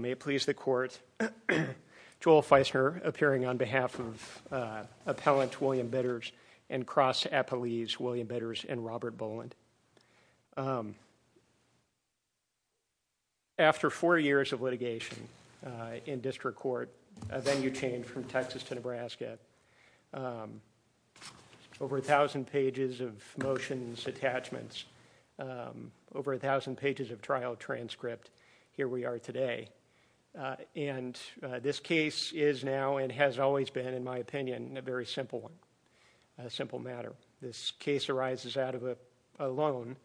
May it please the Court, Joel Feisner appearing on behalf of Appellant William Bitters and Cross Appellees William Bitters and Robert Boland. After four years of litigation in district court, a venue change from Texas to Nebraska, over 1,000 pages of motions, attachments, over 1,000 pages of trial transcript, here we are today. And this case is now and has always been, in my opinion, a very simple one, a simple matter. This case arises out of a loan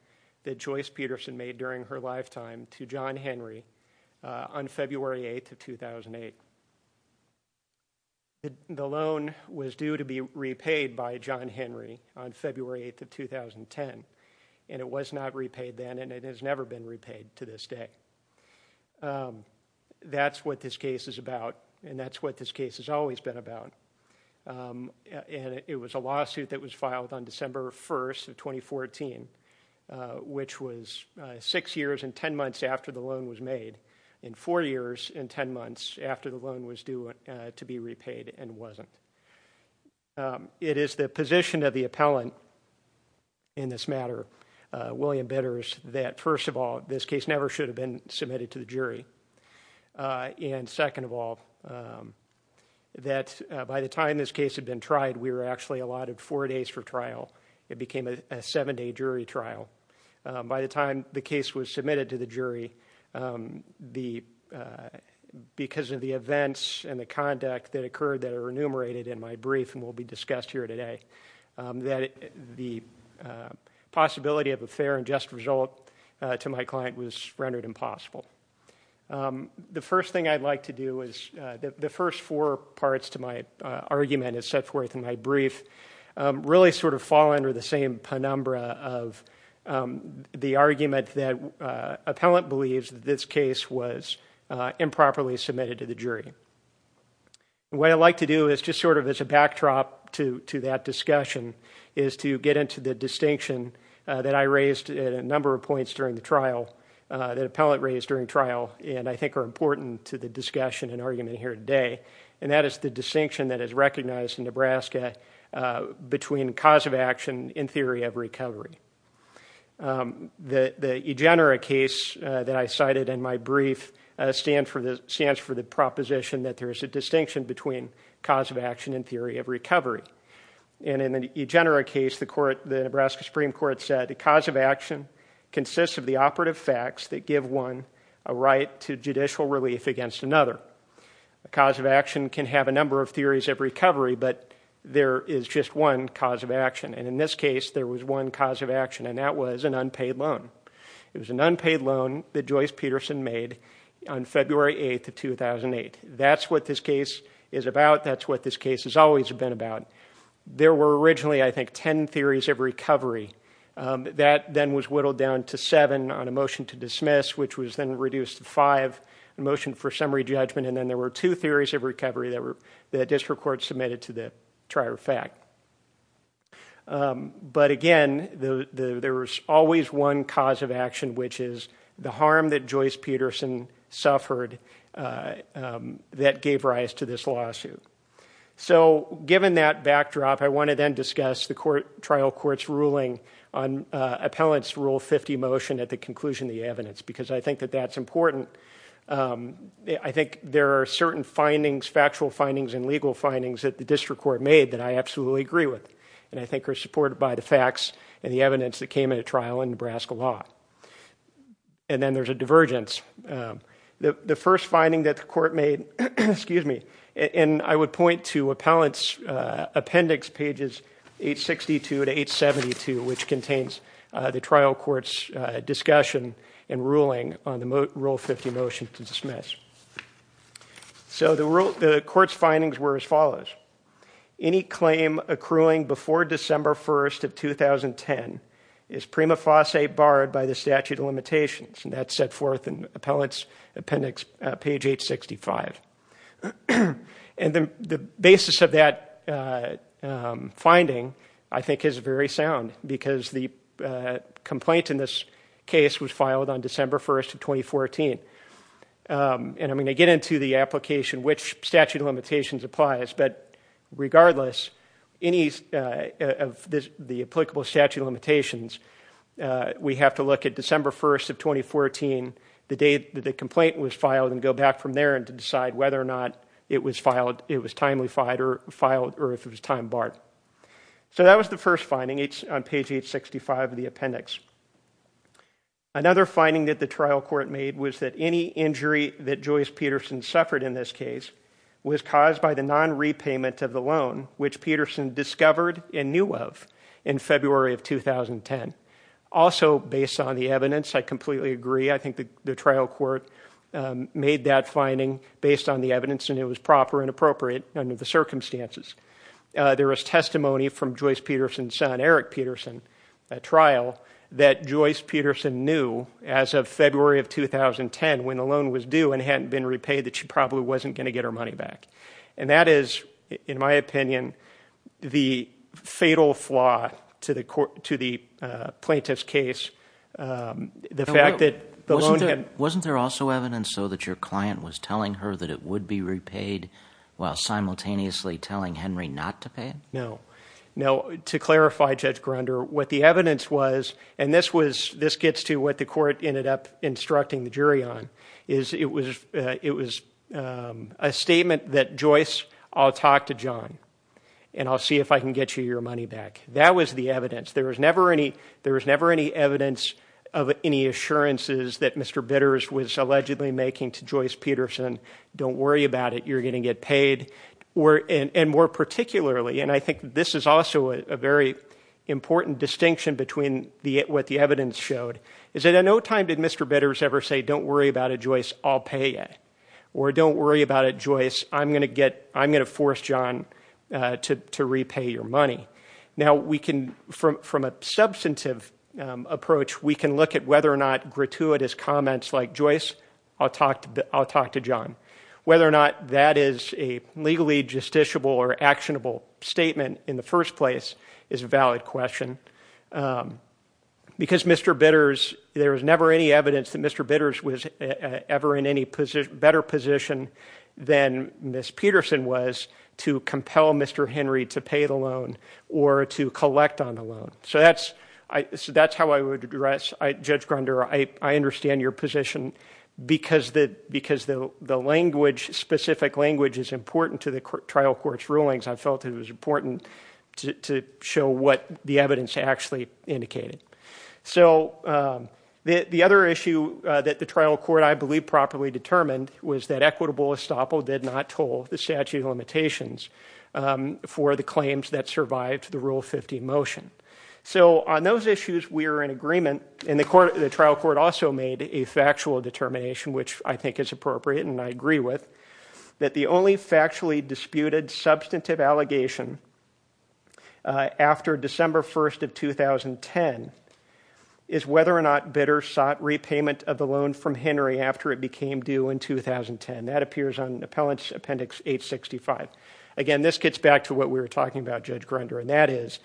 that Joyce Petersen made during her lifetime to John Henry on February 8th of 2008. The loan was due to be repaid by John Henry on February 8th of 2010, and it was not repaid then, and it has never been repaid to this day. That's what this case is about, and that's what this case has always been about. And it was a lawsuit that was filed on December 1st of 2014, which was six years and ten months after the loan was made, and four years and ten months after the loan was due to be repaid and wasn't. It is the position of the appellant in this matter, William Bitters, that first of all, this case never should have been submitted to the jury. And second of all, that by the time this case had been tried, we were actually allotted four days for trial. It became a seven-day jury trial. By the time the case was submitted to the jury, because of the events and the conduct that occurred that are enumerated in my brief and will be discussed here today, that the possibility of a fair and just result to my client was rendered impossible. The first thing I'd like to do is, the first four parts to my argument, as set forth in my brief, really sort of fall under the same penumbra of the argument that appellant believes that this case was improperly submitted to the jury. What I'd like to do is, just sort of as a backdrop to that discussion, is to get into the distinction that I raised at a number of points during the trial, that appellant raised during trial, and I think are important to the discussion and argument here today. And that is the distinction that is recognized in Nebraska between cause of action and theory of recovery. The EGENERA case that I cited in my brief stands for the proposition that there is a distinction between cause of action and theory of recovery. And in the EGENERA case, the Nebraska Supreme Court said, the cause of action consists of the operative facts that give one a right to judicial relief against another. The cause of action can have a number of theories of recovery, but there is just one cause of action. And in this case, there was one cause of action, and that was an unpaid loan. It was an unpaid loan that Joyce Peterson made on February 8th of 2008. That's what this case is about. That's what this case has always been about. There were originally, I think, ten theories of recovery. That then was whittled down to seven on a motion to dismiss, which was then reduced to five, a motion for summary judgment, and then there were two theories of recovery that district court submitted to the trier of fact. But again, there was always one cause of action, which is the harm that Joyce Peterson suffered that gave rise to this lawsuit. So given that backdrop, I want to then discuss the trial court's ruling on appellant's Rule 50 motion at the conclusion of the evidence, because I think that that's important. I think there are certain findings, factual findings and legal findings that the district court made that I absolutely agree with and I think are supported by the facts and the evidence that came at a trial in Nebraska law. And then there's a divergence. The first finding that the court made, and I would point to appellant's appendix, pages 862 to 872, which contains the trial court's discussion and ruling on the Rule 50 motion to dismiss. So the court's findings were as follows. Any claim accruing before December 1st of 2010 is prima facie barred by the statute of limitations, and that's set forth in appellant's appendix, page 865. And the basis of that finding, I think, is very sound, because the complaint in this case was filed on December 1st of 2014. And I'm going to get into the application, which statute of limitations applies, but regardless of the applicable statute of limitations, we have to look at December 1st of 2014, the day that the complaint was filed, and go back from there to decide whether or not it was timely filed or if it was time barred. So that was the first finding. It's on page 865 of the appendix. Another finding that the trial court made was that any injury that Joyce Peterson suffered in this case was caused by the nonrepayment of the loan, which Peterson discovered and knew of in February of 2010. Also, based on the evidence, I completely agree. I think the trial court made that finding based on the evidence, and it was proper and appropriate under the circumstances. There was testimony from Joyce Peterson's son, Eric Peterson, at trial, that Joyce Peterson knew as of February of 2010 when the loan was due and hadn't been repaid that she probably wasn't going to get her money back. And that is, in my opinion, the fatal flaw to the plaintiff's case, the fact that the loan had— Wasn't there also evidence, though, that your client was telling her that it would be repaid while simultaneously telling Henry not to pay it? No. To clarify, Judge Grunder, what the evidence was, and this gets to what the court ended up instructing the jury on, is it was a statement that Joyce, I'll talk to John, and I'll see if I can get you your money back. That was the evidence. There was never any evidence of any assurances that Mr. Bitters was allegedly making to Joyce Peterson, don't worry about it, you're going to get paid, and more particularly, and I think this is also a very important distinction between what the evidence showed, is that in no time did Mr. Bitters ever say, don't worry about it, Joyce, I'll pay you, or don't worry about it, Joyce, I'm going to force John to repay your money. Now, from a substantive approach, we can look at whether or not gratuitous comments like, Joyce, I'll talk to John, whether or not that is a legally justiciable or actionable statement in the first place is a valid question. Because Mr. Bitters, there was never any evidence that Mr. Bitters was ever in any better position than Miss Peterson was to compel Mr. Henry to pay the loan or to collect on the loan. So that's how I would address, Judge Grunder, I understand your position, because the language, specific language, is important to the trial court's rulings, I felt it was important to show what the evidence actually indicated. So the other issue that the trial court, I believe, properly determined was that equitable estoppel did not toll the statute of limitations for the claims that survived the Rule 50 motion. So on those issues, we are in agreement, and the trial court also made a factual determination, which I think is appropriate and I agree with, that the only factually disputed substantive allegation after December 1st of 2010 is whether or not Bitters sought repayment of the loan from Henry after it became due in 2010. That appears on Appellant's Appendix 865. Again, this gets back to what we were talking about, Judge Grunder, and that is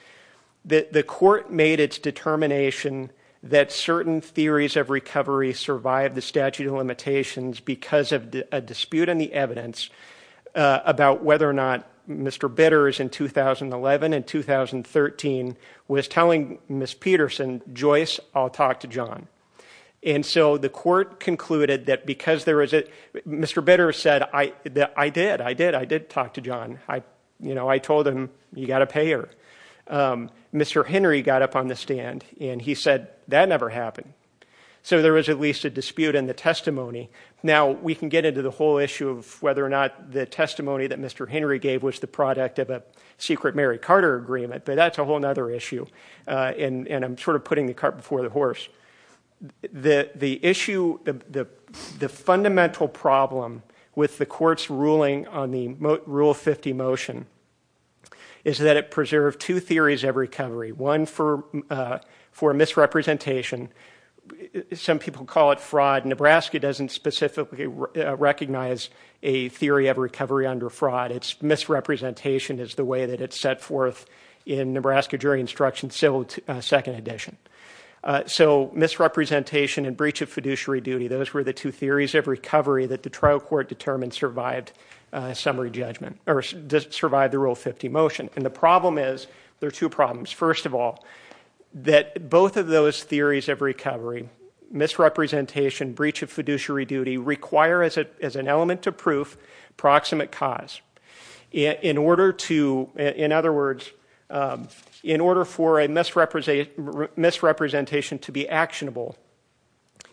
that the court made its determination that certain theories of recovery survived the statute of limitations because of a dispute in the evidence about whether or not Mr. Bitters in 2011 and 2013 was telling Ms. Peterson, Joyce, I'll talk to John. And so the court concluded that because there was a, Mr. Bitters said, I did, I did, I did talk to John. You know, I told him, you got to pay her. Mr. Henry got up on the stand, and he said, that never happened. So there was at least a dispute in the testimony. Now, we can get into the whole issue of whether or not the testimony that Mr. Henry gave was the product of a secret Mary Carter agreement, but that's a whole other issue, and I'm sort of putting the cart before the horse. The issue, the fundamental problem with the court's ruling on the Rule 50 motion is that it preserved two theories of recovery. One for misrepresentation. Some people call it fraud. Nebraska doesn't specifically recognize a theory of recovery under fraud. It's misrepresentation is the way that it's set forth in Nebraska jury instruction civil second edition. So misrepresentation and breach of fiduciary duty, those were the two theories of recovery that the trial court determined survived summary judgment, or survived the Rule 50 motion. And the problem is, there are two problems. First of all, that both of those theories of recovery, misrepresentation, breach of fiduciary duty, require as an element of proof, proximate cause. In other words, in order for a misrepresentation to be actionable,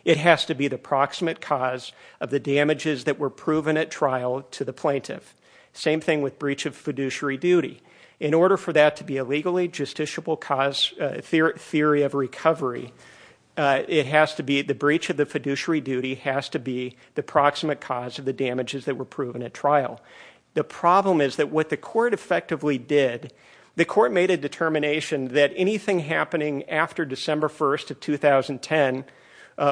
it has to be the proximate cause of the damages that were proven at trial to the plaintiff. Same thing with breach of fiduciary duty. In order for that to be a legally justiciable theory of recovery, the breach of the fiduciary duty has to be the proximate cause of the damages that were proven at trial. The problem is that what the court effectively did, the court made a determination that anything happening after December 1st of 2010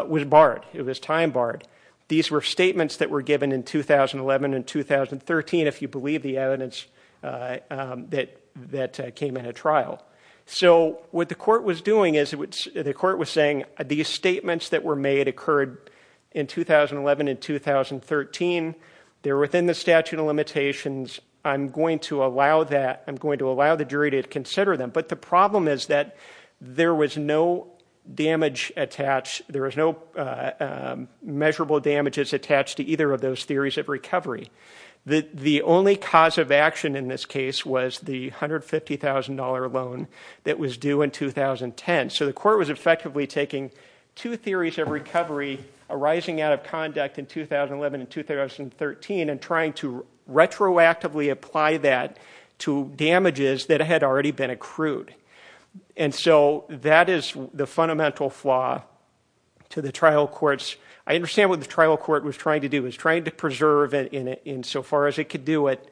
was barred. It was time barred. These were statements that were given in 2011 and 2013, if you believe the evidence that came in at trial. So what the court was doing is, the court was saying, these statements that were made occurred in 2011 and 2013. They're within the statute of limitations. I'm going to allow that. I'm going to allow the jury to consider them. But the problem is that there was no measurable damages attached to either of those theories of recovery. The only cause of action in this case was the $150,000 loan that was due in 2010. So the court was effectively taking two theories of recovery arising out of conduct in 2011 and 2013 and trying to retroactively apply that to damages that had already been accrued. And so that is the fundamental flaw to the trial courts. I understand what the trial court was trying to do. It was trying to preserve, insofar as it could do it,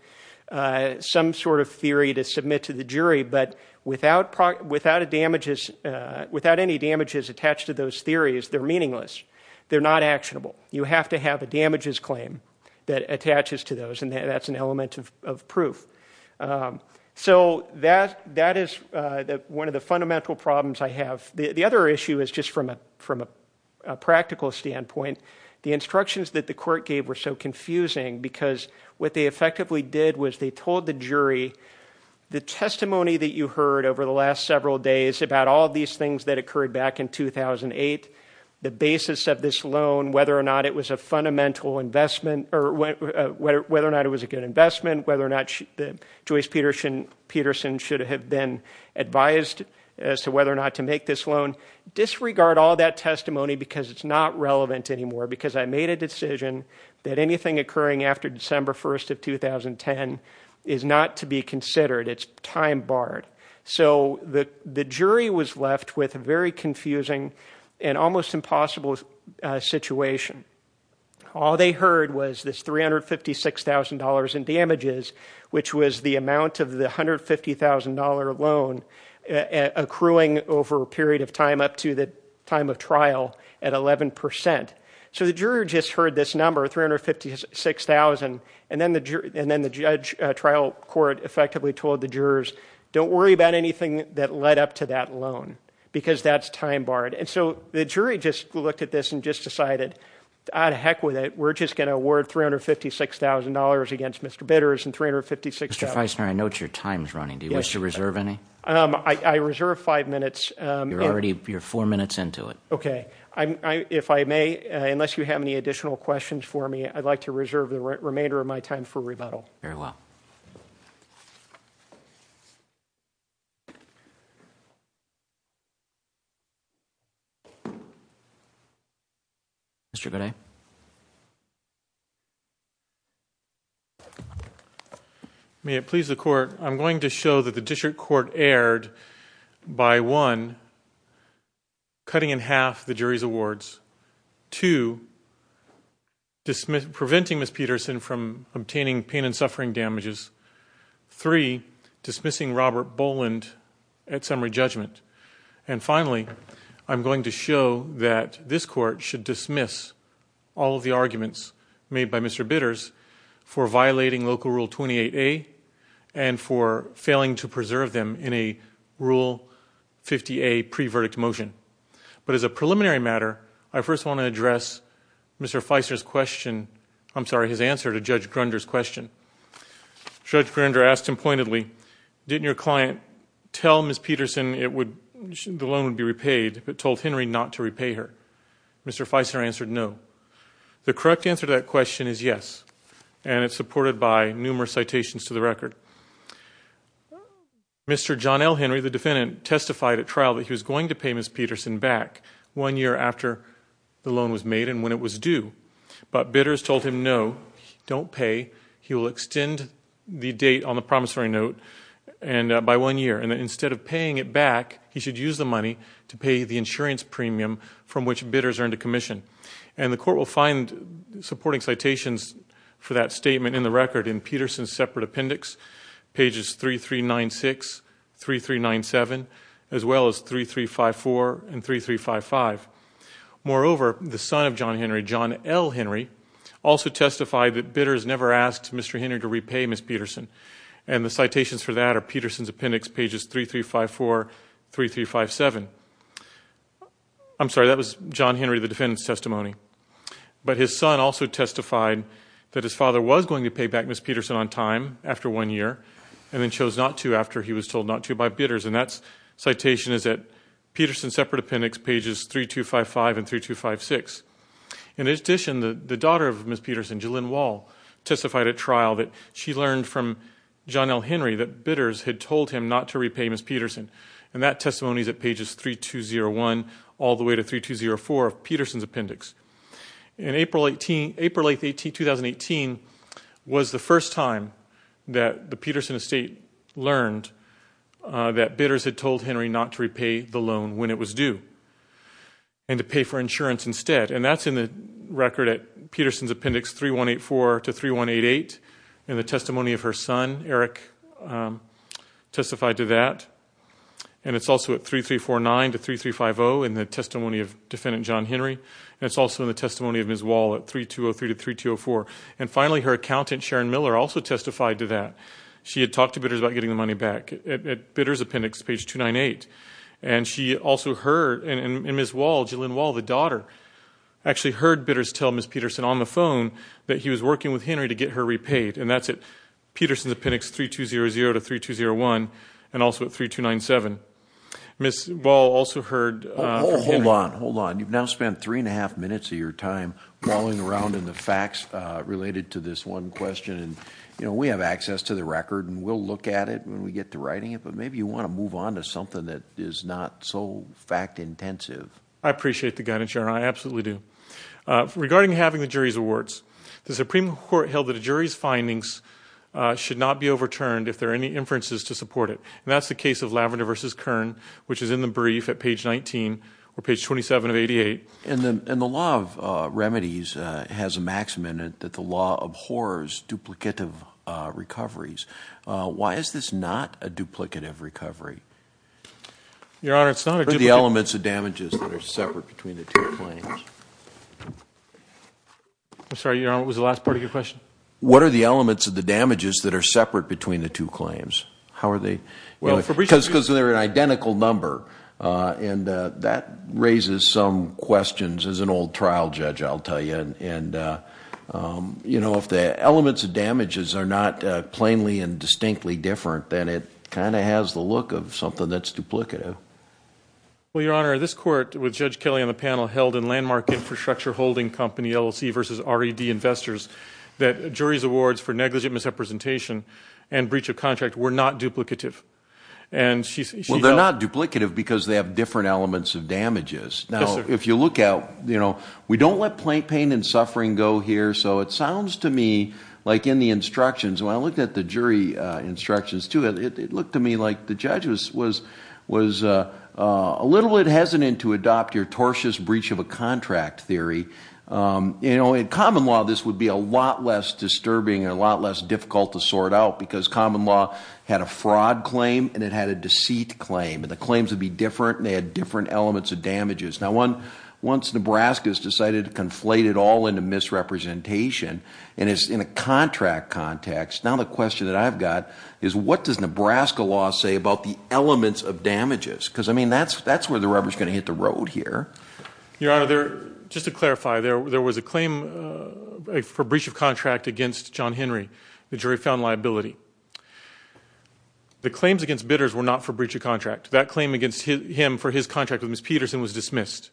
some sort of theory to submit to the jury. But without any damages attached to those theories, they're meaningless. They're not actionable. You have to have a damages claim that attaches to those, and that's an element of proof. So that is one of the fundamental problems I have. The other issue is, just from a practical standpoint, the instructions that the court gave were so confusing because what they effectively did was they told the jury, the testimony that you heard over the last several days about all these things that occurred back in 2008, the basis of this loan, whether or not it was a good investment, whether or not Joyce Peterson should have been advised as to whether or not to make this loan, disregard all that testimony because it's not relevant anymore because I made a decision that anything occurring after December 1st of 2010 is not to be considered. It's time barred. So the jury was left with a very confusing and almost impossible situation. All they heard was this $356,000 in damages, which was the amount of the $150,000 loan accruing over a period of time up to the time of trial at 11%. So the juror just heard this number, $356,000, and then the trial court effectively told the jurors, don't worry about anything that led up to that loan because that's time barred. And so the jury just looked at this and just decided, out of heck with it, we're just going to award $356,000 against Mr. Bitters and $356,000. Mr. Feisner, I note your time is running. Do you wish to reserve any? I reserve five minutes. You're four minutes into it. Okay. If I may, unless you have any additional questions for me, I'd like to reserve the remainder of my time for rebuttal. Very well. Mr. Gooday. May it please the court, I'm going to show that the district court erred by, one, cutting in half the jury's awards, two, preventing Ms. Peterson from obtaining pain and suffering damages, three, dismissing Robert Boland at summary judgment. And finally, I'm going to show that this court should dismiss all of the arguments made by Mr. Peterson for failing to preserve them in a rule 50A pre-verdict motion. But as a preliminary matter, I first want to address Mr. Feisner's question. I'm sorry, his answer to Judge Grunder's question. Judge Grunder asked him pointedly, didn't your client tell Ms. Peterson the loan would be repaid, but told Henry not to repay her? Mr. Feisner answered no. The correct answer to that question is yes. And it's supported by numerous citations to the record. Mr. John L. Henry, the defendant, testified at trial that he was going to pay Ms. Peterson back one year after the loan was made and when it was due. But bidders told him no, don't pay. He will extend the date on the promissory note by one year. And instead of paying it back, he should use the money to pay the insurance premium from which bidders are into commission. And the court will find supporting citations for that statement in the record in Peterson's separate appendix, pages 3396, 3397, as well as 3354 and 3355. Moreover, the son of John Henry, John L. Henry, also testified that bidders never asked Mr. Henry to repay Ms. Peterson. And the citations for that are Peterson's appendix, pages 3354, 3357. I'm sorry, that was John Henry, the defendant's testimony. But his son also testified that his father was going to pay back Ms. Peterson on time after one year and then chose not to after he was told not to by bidders. And that citation is at Peterson's separate appendix, pages 3255 and 3256. In addition, the daughter of Ms. Peterson, Jalynn Wall, testified at trial that she learned from John L. Henry that bidders had told him not to repay Ms. Peterson. And that testimony is at pages 3201 all the way to 3204 of Peterson's appendix. And April 18, April 18, 2018, was the first time that the Peterson estate learned that bidders had told Henry not to repay the loan when it was due and to pay for insurance instead. And that's in the record at Peterson's appendix, 3184 to 3188. And the testimony of her son, Eric, testified to that. And it's also at 3349 to 3350 in the testimony of defendant John Henry. And it's also in the testimony of Ms. Wall at 3203 to 3204. And finally, her accountant, Sharon Miller, also testified to that. She had talked to bidders about getting the money back. At bidder's appendix, page 298. And she also heard, and Ms. Wall, Jalynn Wall, the daughter, actually heard bidders tell Ms. Peterson on the phone that he was working with Henry to get her repaid. And that's at Peterson's appendix, 3200 to 3201. And also at 3297. Ms. Wall also heard. Hold on, hold on. You've now spent three and a half minutes of your time brawling around in the facts related to this one question. And, you know, we have access to the record and we'll look at it when we get to writing it, but maybe you want to move on to something that is not so fact intensive. I appreciate the guidance, Sharon. I absolutely do. Regarding having the jury's awards, the Supreme court held that a jury's findings should not be overturned if there are any inferences to support it. And that's the case of Lavender versus Kern, which is in the brief at page 19 or page 27 of 88. And then, and the law of remedies has a maximum in it that the law of horrors duplicative recoveries. Why is this not a duplicative recovery? Your Honor, it's not the elements of damages that are separate between the two claims. I'm sorry. Your Honor, it was the last part of your question. What are the elements of the damages that are separate between the two claims? How are they? Well, because, because they're an identical number and that raises some questions as an old trial judge, I'll tell you. And, and you know, if the elements of damages are not plainly and distinctly different, then it kind of has the look of something that's duplicative. Well, Your Honor, this court with judge Kelly on the panel held in landmark infrastructure holding company, LLC versus already the investors that jury's awards for negligent misrepresentation and breach of contract were not duplicative. And she's. Well, they're not duplicative because they have different elements of damages. Now, if you look out, you know, we don't let plain pain and suffering go here. So it sounds to me like in the instructions, when I looked at the jury instructions to it, was, was a little bit hesitant to adopt your tortious breach of a contract theory. You know, in common law, this would be a lot less disturbing and a lot less difficult to sort out because common law had a fraud claim and it had a deceit claim. And the claims would be different. And they had different elements of damages. Now one, once Nebraska has decided to conflate it all into misrepresentation and it's in a contract context. Now, the question that I've got is what does Nebraska law say about the elements of damages? Cause I mean, that's, that's where the rubber is going to hit the road here. Your Honor. Just to clarify there, there was a claim for breach of contract against John Henry. The jury found liability. The claims against bidders were not for breach of contract that claim against him, for his contract with Ms. Peterson was dismissed.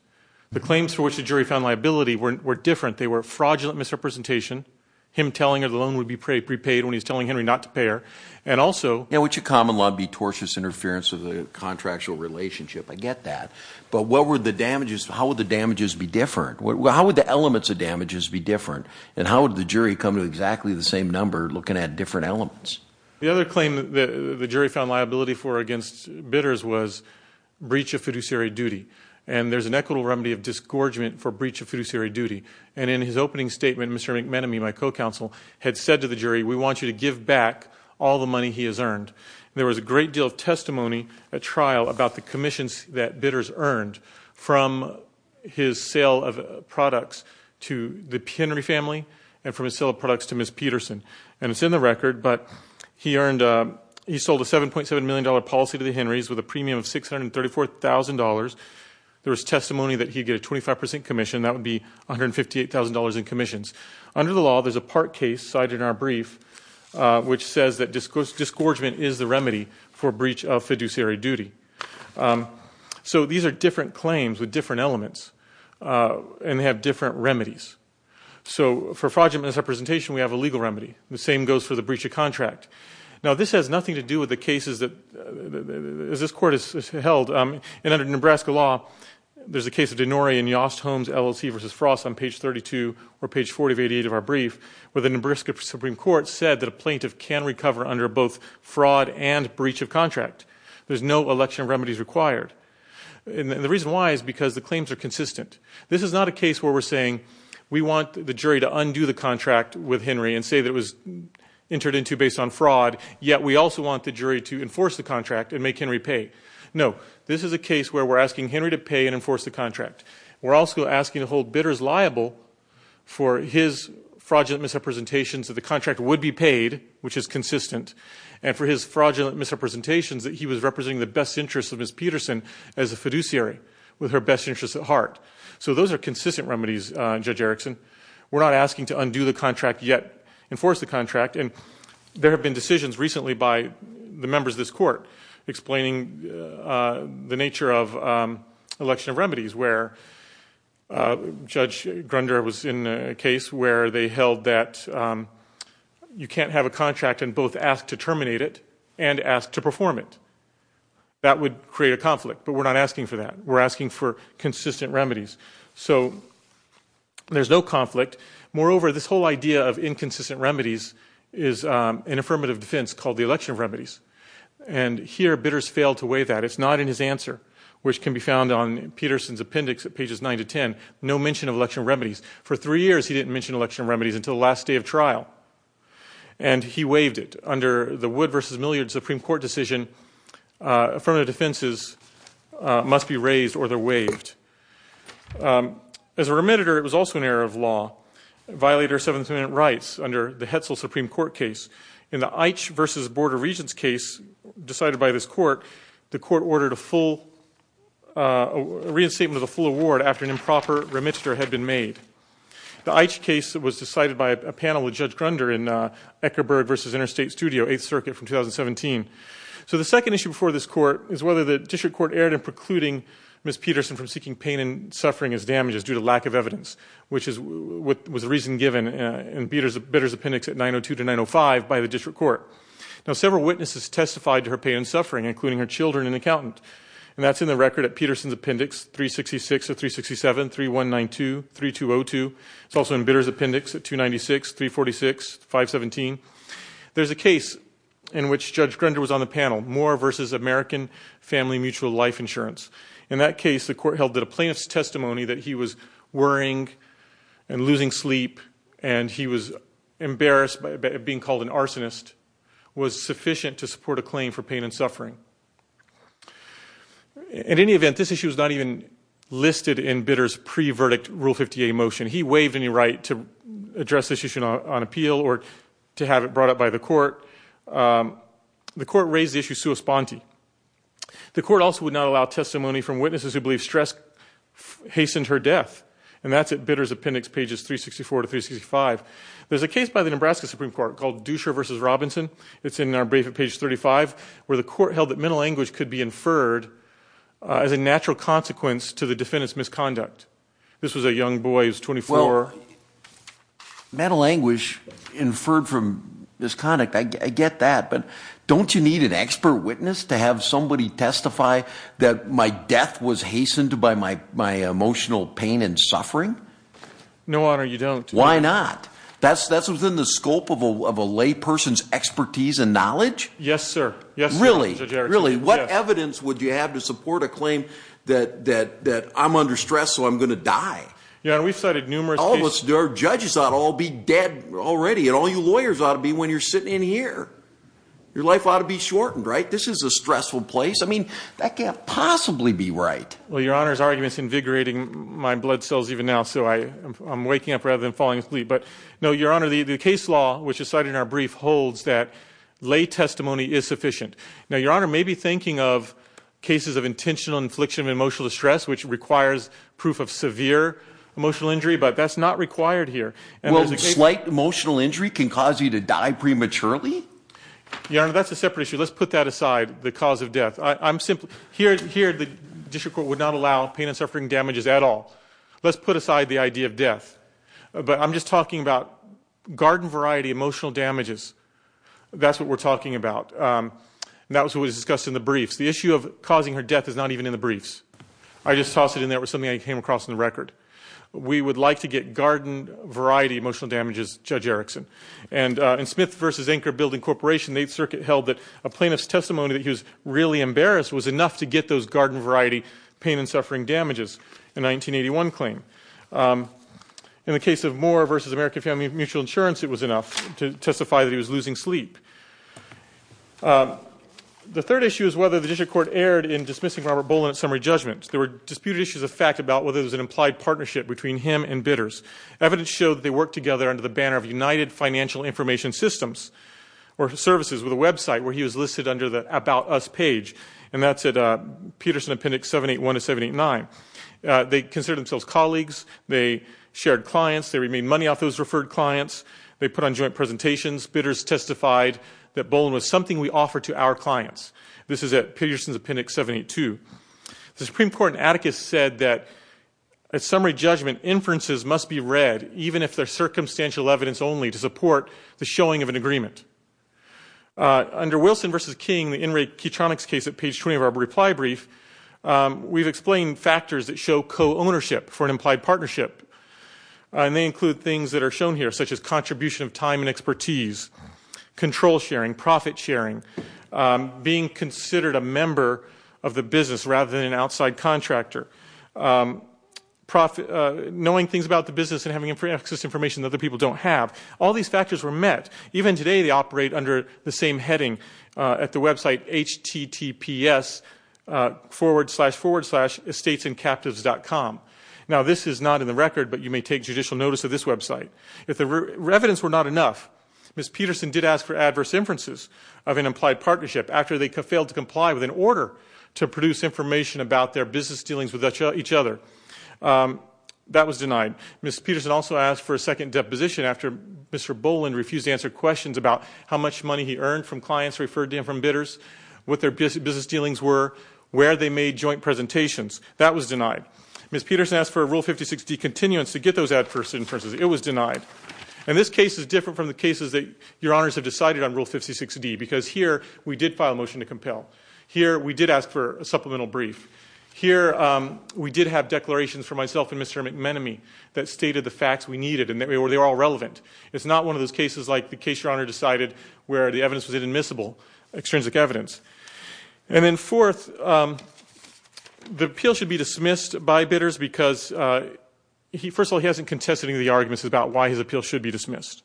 The claims for which the jury found liability were, were different. They were fraudulent misrepresentation. Him telling her the loan would be prepaid when he's telling Henry not to pair. And also, yeah, which a common law be tortious interference with the contractual relationship. I get that, but what were the damages? How would the damages be different? What, how would the elements of damages be different? And how would the jury come to exactly the same number looking at different elements? The other claim that the jury found liability for against bidders was breach of fiduciary duty. And there's an equitable remedy of disgorgement for breach of fiduciary duty. And in his opening statement, Mr. McMenemy, my co-counsel had said to the jury, we want you to give back all the money he has earned. There was a great deal of testimony, a trial about the commissions that bidders earned from, from his sale of products to the Henry family. And from a sale of products to Ms. Peterson. And it's in the record, but he earned a, he sold a $7.7 million policy to the Henry's with a premium of $634,000. There was testimony that he'd get a 25% commission. That would be $158,000 in commissions under the law. There's a part case cited in our brief, which says that discourse disgorgement is the remedy for breach of fiduciary duty. So these are different claims with different elements and have different remedies. So for fraudulent misrepresentation, we have a legal remedy. The same goes for the breach of contract. Now this has nothing to do with the cases that this court has held. And under Nebraska law, there's a case of Denori and Yost Holmes LLC versus frost on page 32 or page 40 of 88 of our brief, where the Nebraska Supreme court said that a plaintiff can recover under both fraud and breach of contract. There's no election remedies required. And the reason why is because the claims are consistent. This is not a case where we're saying we want the jury to undo the contract with Henry and say that it was entered into based on fraud. Yet. We also want the jury to enforce the contract and make Henry pay. No, this is a case where we're asking Henry to pay and enforce the contract. We're also asking to hold bidders liable for his fraudulent misrepresentations of the contract would be paid, which is consistent. And for his fraudulent misrepresentations that he was representing the best interests of his Peterson as a fiduciary with her best interests at heart. So those are consistent remedies. Judge Erickson, we're not asking to undo the contract yet, enforce the contract. And there have been decisions recently by the members of this court explaining the nature of election of remedies, where judge Grunder was in a case where they held that you can't have a contract and both ask to terminate it and ask to perform it. That would create a conflict, but we're not asking for that. We're asking for consistent remedies. So there's no conflict. Moreover, this whole idea of inconsistent remedies is an affirmative defense called the election of remedies. And here bidders fail to weigh that it's not in his answer, which can be found on Peterson's appendix at pages nine to 10, no mention of election remedies for three years. He didn't mention election remedies until the last day of trial. And he waived it under the wood versus milliard Supreme court decision. Uh, affirmative defenses, uh, must be raised or they're waived. Um, as a remediator, it was also an error of law violator seventh minute rights under the Hetzel Supreme court case in the itch versus border regions case decided by this court, the court ordered a full, uh, a reinstatement of the full award after an improper remit stir had been made. The itch case was decided by a panel with judge Grunder in a Eckerberg versus interstate studio, eighth circuit from 2017. So the second issue before this court is whether the district court erred in precluding Ms. Peterson from seeking pain and suffering as damages due to lack of evidence, which is what was the reason given, uh, and beaters bidders appendix at nine Oh two to nine Oh five by the district court. Now, several witnesses testified to her pain and suffering, including her children and accountant. And that's in the record at Peterson's appendix three 66 or three 67, three one nine two, three two Oh two. It's also in bidders appendix at two 96, three 46, five 17. There's a case in which judge Grunder was on the panel more versus American family mutual life insurance. In that case, the court held that a plaintiff's testimony that he was worrying and losing sleep. And he was embarrassed by being called an arsonist was sufficient to support a claim for pain and suffering. At any event, this issue was not even listed in bidders pre verdict rule 58 motion. He waived any right to address this issue on appeal or to have it brought up by the court. Um, the court raised the issue. Sue a sponty. The court also would not allow testimony from witnesses who believe stress hastened her death. And that's it. Bidders appendix pages three 64 to three 65. There's a case by the Nebraska Supreme court called Duescher versus Robinson. It's in our brief at page 35 where the court held that mental anguish could be inferred, uh, as a natural consequence to the defendant's misconduct. This was a young boy. He was 24 mental anguish inferred from this conduct. I get that, but don't you need an expert witness to have somebody testify that my death was hastened by my, my emotional pain and suffering? No honor. You don't. Why not? That's, that's within the scope of a, of a lay person's expertise and knowledge. Yes, sir. Yes. Really? Really? What evidence would you have to support a claim that, that, that I'm under stress. So I'm going to die. Yeah. And we've cited numerous, all of us, there are judges that all be dead already. And all you lawyers ought to be when you're sitting in here, your life ought to be shortened, right? This is a stressful place. I mean, that can't possibly be right. Well, your honor's arguments invigorating my blood cells even now. So I I'm waking up rather than falling asleep, but no, your honor, the, the case law, which is cited in our brief holds that lay testimony is sufficient. Now, your honor may be thinking of cases of intentional infliction of emotional distress, which requires proof of severe emotional injury, but that's not required here. Well, slight emotional injury can cause you to die prematurely. Yeah. That's a separate issue. Let's put that aside. The cause of death. I I'm simply here, here, the district court would not allow pain and suffering damages at all. Let's put aside the idea of death, but I'm just talking about garden variety, emotional damages. That's what we're talking about. And that was what was discussed in the briefs. The issue of causing her death is not even in the briefs. I just tossed it in there with something I came across in the record. We would like to get garden variety, emotional damages, judge Erickson and, and Smith versus anchor building corporation. They'd circuit held that a plaintiff's testimony that he was really embarrassed was enough to get those garden variety pain and suffering damages in 1981 claim. In the case of more versus American family, mutual insurance, it was enough to testify that he was losing sleep. The third issue is whether the district court erred in dismissing Robert Boland summary judgment. There were disputed issues of fact about whether there was an implied partnership between him and bidders. Evidence showed that they worked together under the banner of United financial information systems or services with a website where he was listed under the about us page. And that's at a Peterson appendix, seven, eight one to seven, eight nine. Uh, they consider themselves colleagues. They shared clients. They remain money off those referred clients. They put on joint presentations, bidders testified that Boland was something we offer to our clients. This is at Peterson's appendix, seven, eight, two, the Supreme court and Atticus said that at summary judgment inferences must be read, even if they're circumstantial evidence only to support the showing of an agreement, uh, under Wilson versus King, the in rate Keatonics case at page 20 of our reply brief. Um, we've explained factors that show co-ownership for an implied partnership. And they include things that are shown here, such as contribution of time and expertise, control sharing, profit sharing, um, being considered a member of the business rather than an outside contractor. Um, profit, uh, knowing things about the business and having access information that other people don't have. All these factors were met. Even today, they operate under the same heading, uh, at the website, H T T P S, uh, forward slash forward slash estates and captives.com. Now this is not in the record, but you may take judicial notice of this website. If the re evidence were not enough, Ms. Peterson did ask for adverse inferences of an implied partnership after they could fail to comply with an order to produce information about their business dealings with each other. Um, that was denied. Ms. Peterson also asked for a second deposition after Mr. Boland refused to answer questions about how much money he earned from clients referred to him from bidders, what their business dealings were, where they made joint presentations. That was denied. Ms. Peterson asked for a rule 50 60 continuance to get those adverse inferences. It was denied. And this case is different from the cases that your honors have decided on rule 56 D because here we did file a motion to compel here. We did ask for a supplemental brief here. Um, we did have declarations for myself and Mr. McManamy that stated the facts we needed and that we were, they were all relevant. It's not one of those cases like the case. Your honor decided where the evidence was in admissible, extrinsic evidence. And then fourth, um, the appeal should be dismissed by bidders because, uh, he, first of all, he hasn't contested any of the arguments about why his appeal should be dismissed.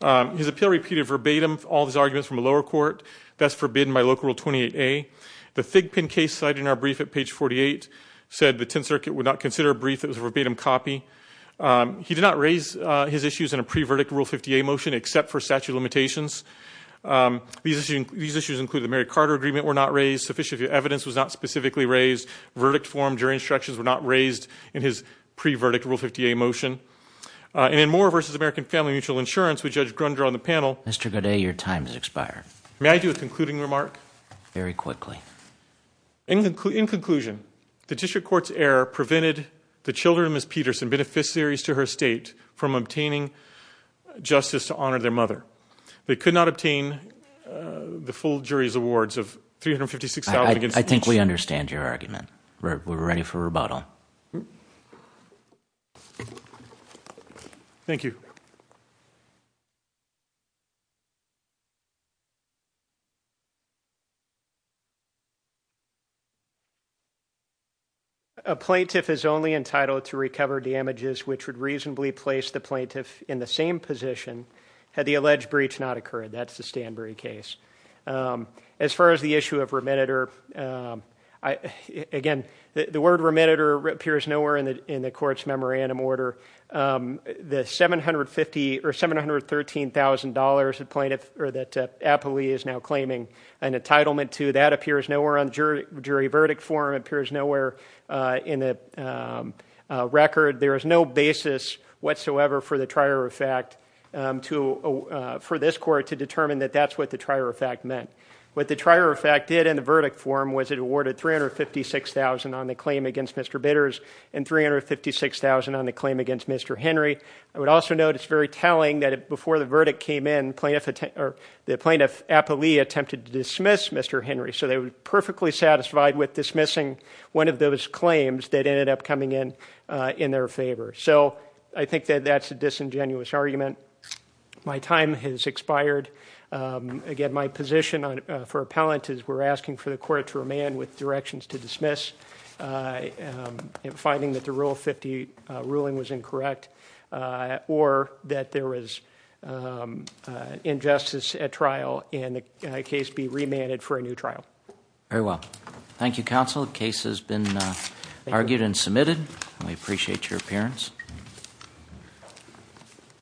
Um, his appeal repeated verbatim, all these arguments from a lower court that's forbidden by local rule 28. A the fig pin case side in our brief at page 48 said the 10th circuit would not consider a brief. It was a verbatim copy. Um, he did not raise, his issues in a pre-verdict rule 50 a motion except for statute limitations. Um, these issues, these issues include the Mary Carter agreement. We're not raised sufficient. If your evidence was not specifically raised verdict form, jury instructions were not raised in his pre-verdict rule 50, a motion, uh, and then more versus American family mutual insurance. We judge Grunger on the panel, Mr. Good day. Your time's expired. May I do a concluding remark very quickly. In conclusion, in conclusion, the district court's error prevented the children. Ms. Peterson beneficiaries to her state from obtaining justice to honor their mother. They could not obtain, uh, the full jury's awards of 356. I think we understand your argument. We're ready for rebuttal. Thank you. A plaintiff is only entitled to recover damages, which would reasonably place the plaintiff in the same position. Had the alleged breach not occurred, that's the Stanbury case. Um, as far as the issue of remitted, or, um, I, again, the, the word remitted or appears nowhere in the, in the court's memorandum order, um, the 750 or $713,000 at plaintiff, or that, uh, Appley is now claiming an entitlement to that appears nowhere on jury, jury verdict form appears nowhere, uh, in the, um, uh, record. There is no basis whatsoever for the trier of fact, um, to, uh, for this court to determine that that's what the trier of fact meant. What the trier of fact did in the verdict form was it awarded 356,000 on the claim against Mr. Bidders and 356,000 on the claim against Mr. Henry. I would also notice very telling that before the verdict came in plaintiff, or the plaintiff Appley attempted to dismiss Mr. Henry. So they were perfectly satisfied with dismissing one of those claims that was in favor. So I think that that's a disingenuous argument. My time has expired. Um, again, my position on, uh, for appellant is we're asking for the court to remain with directions to dismiss, uh, um, and finding that the rule 50, uh, ruling was incorrect, uh, or that there was, um, uh, injustice at trial in a case be remanded for a new trial. Very well. Thank you. Counsel case has been, uh, argued and submitted. And we appreciate your appearance.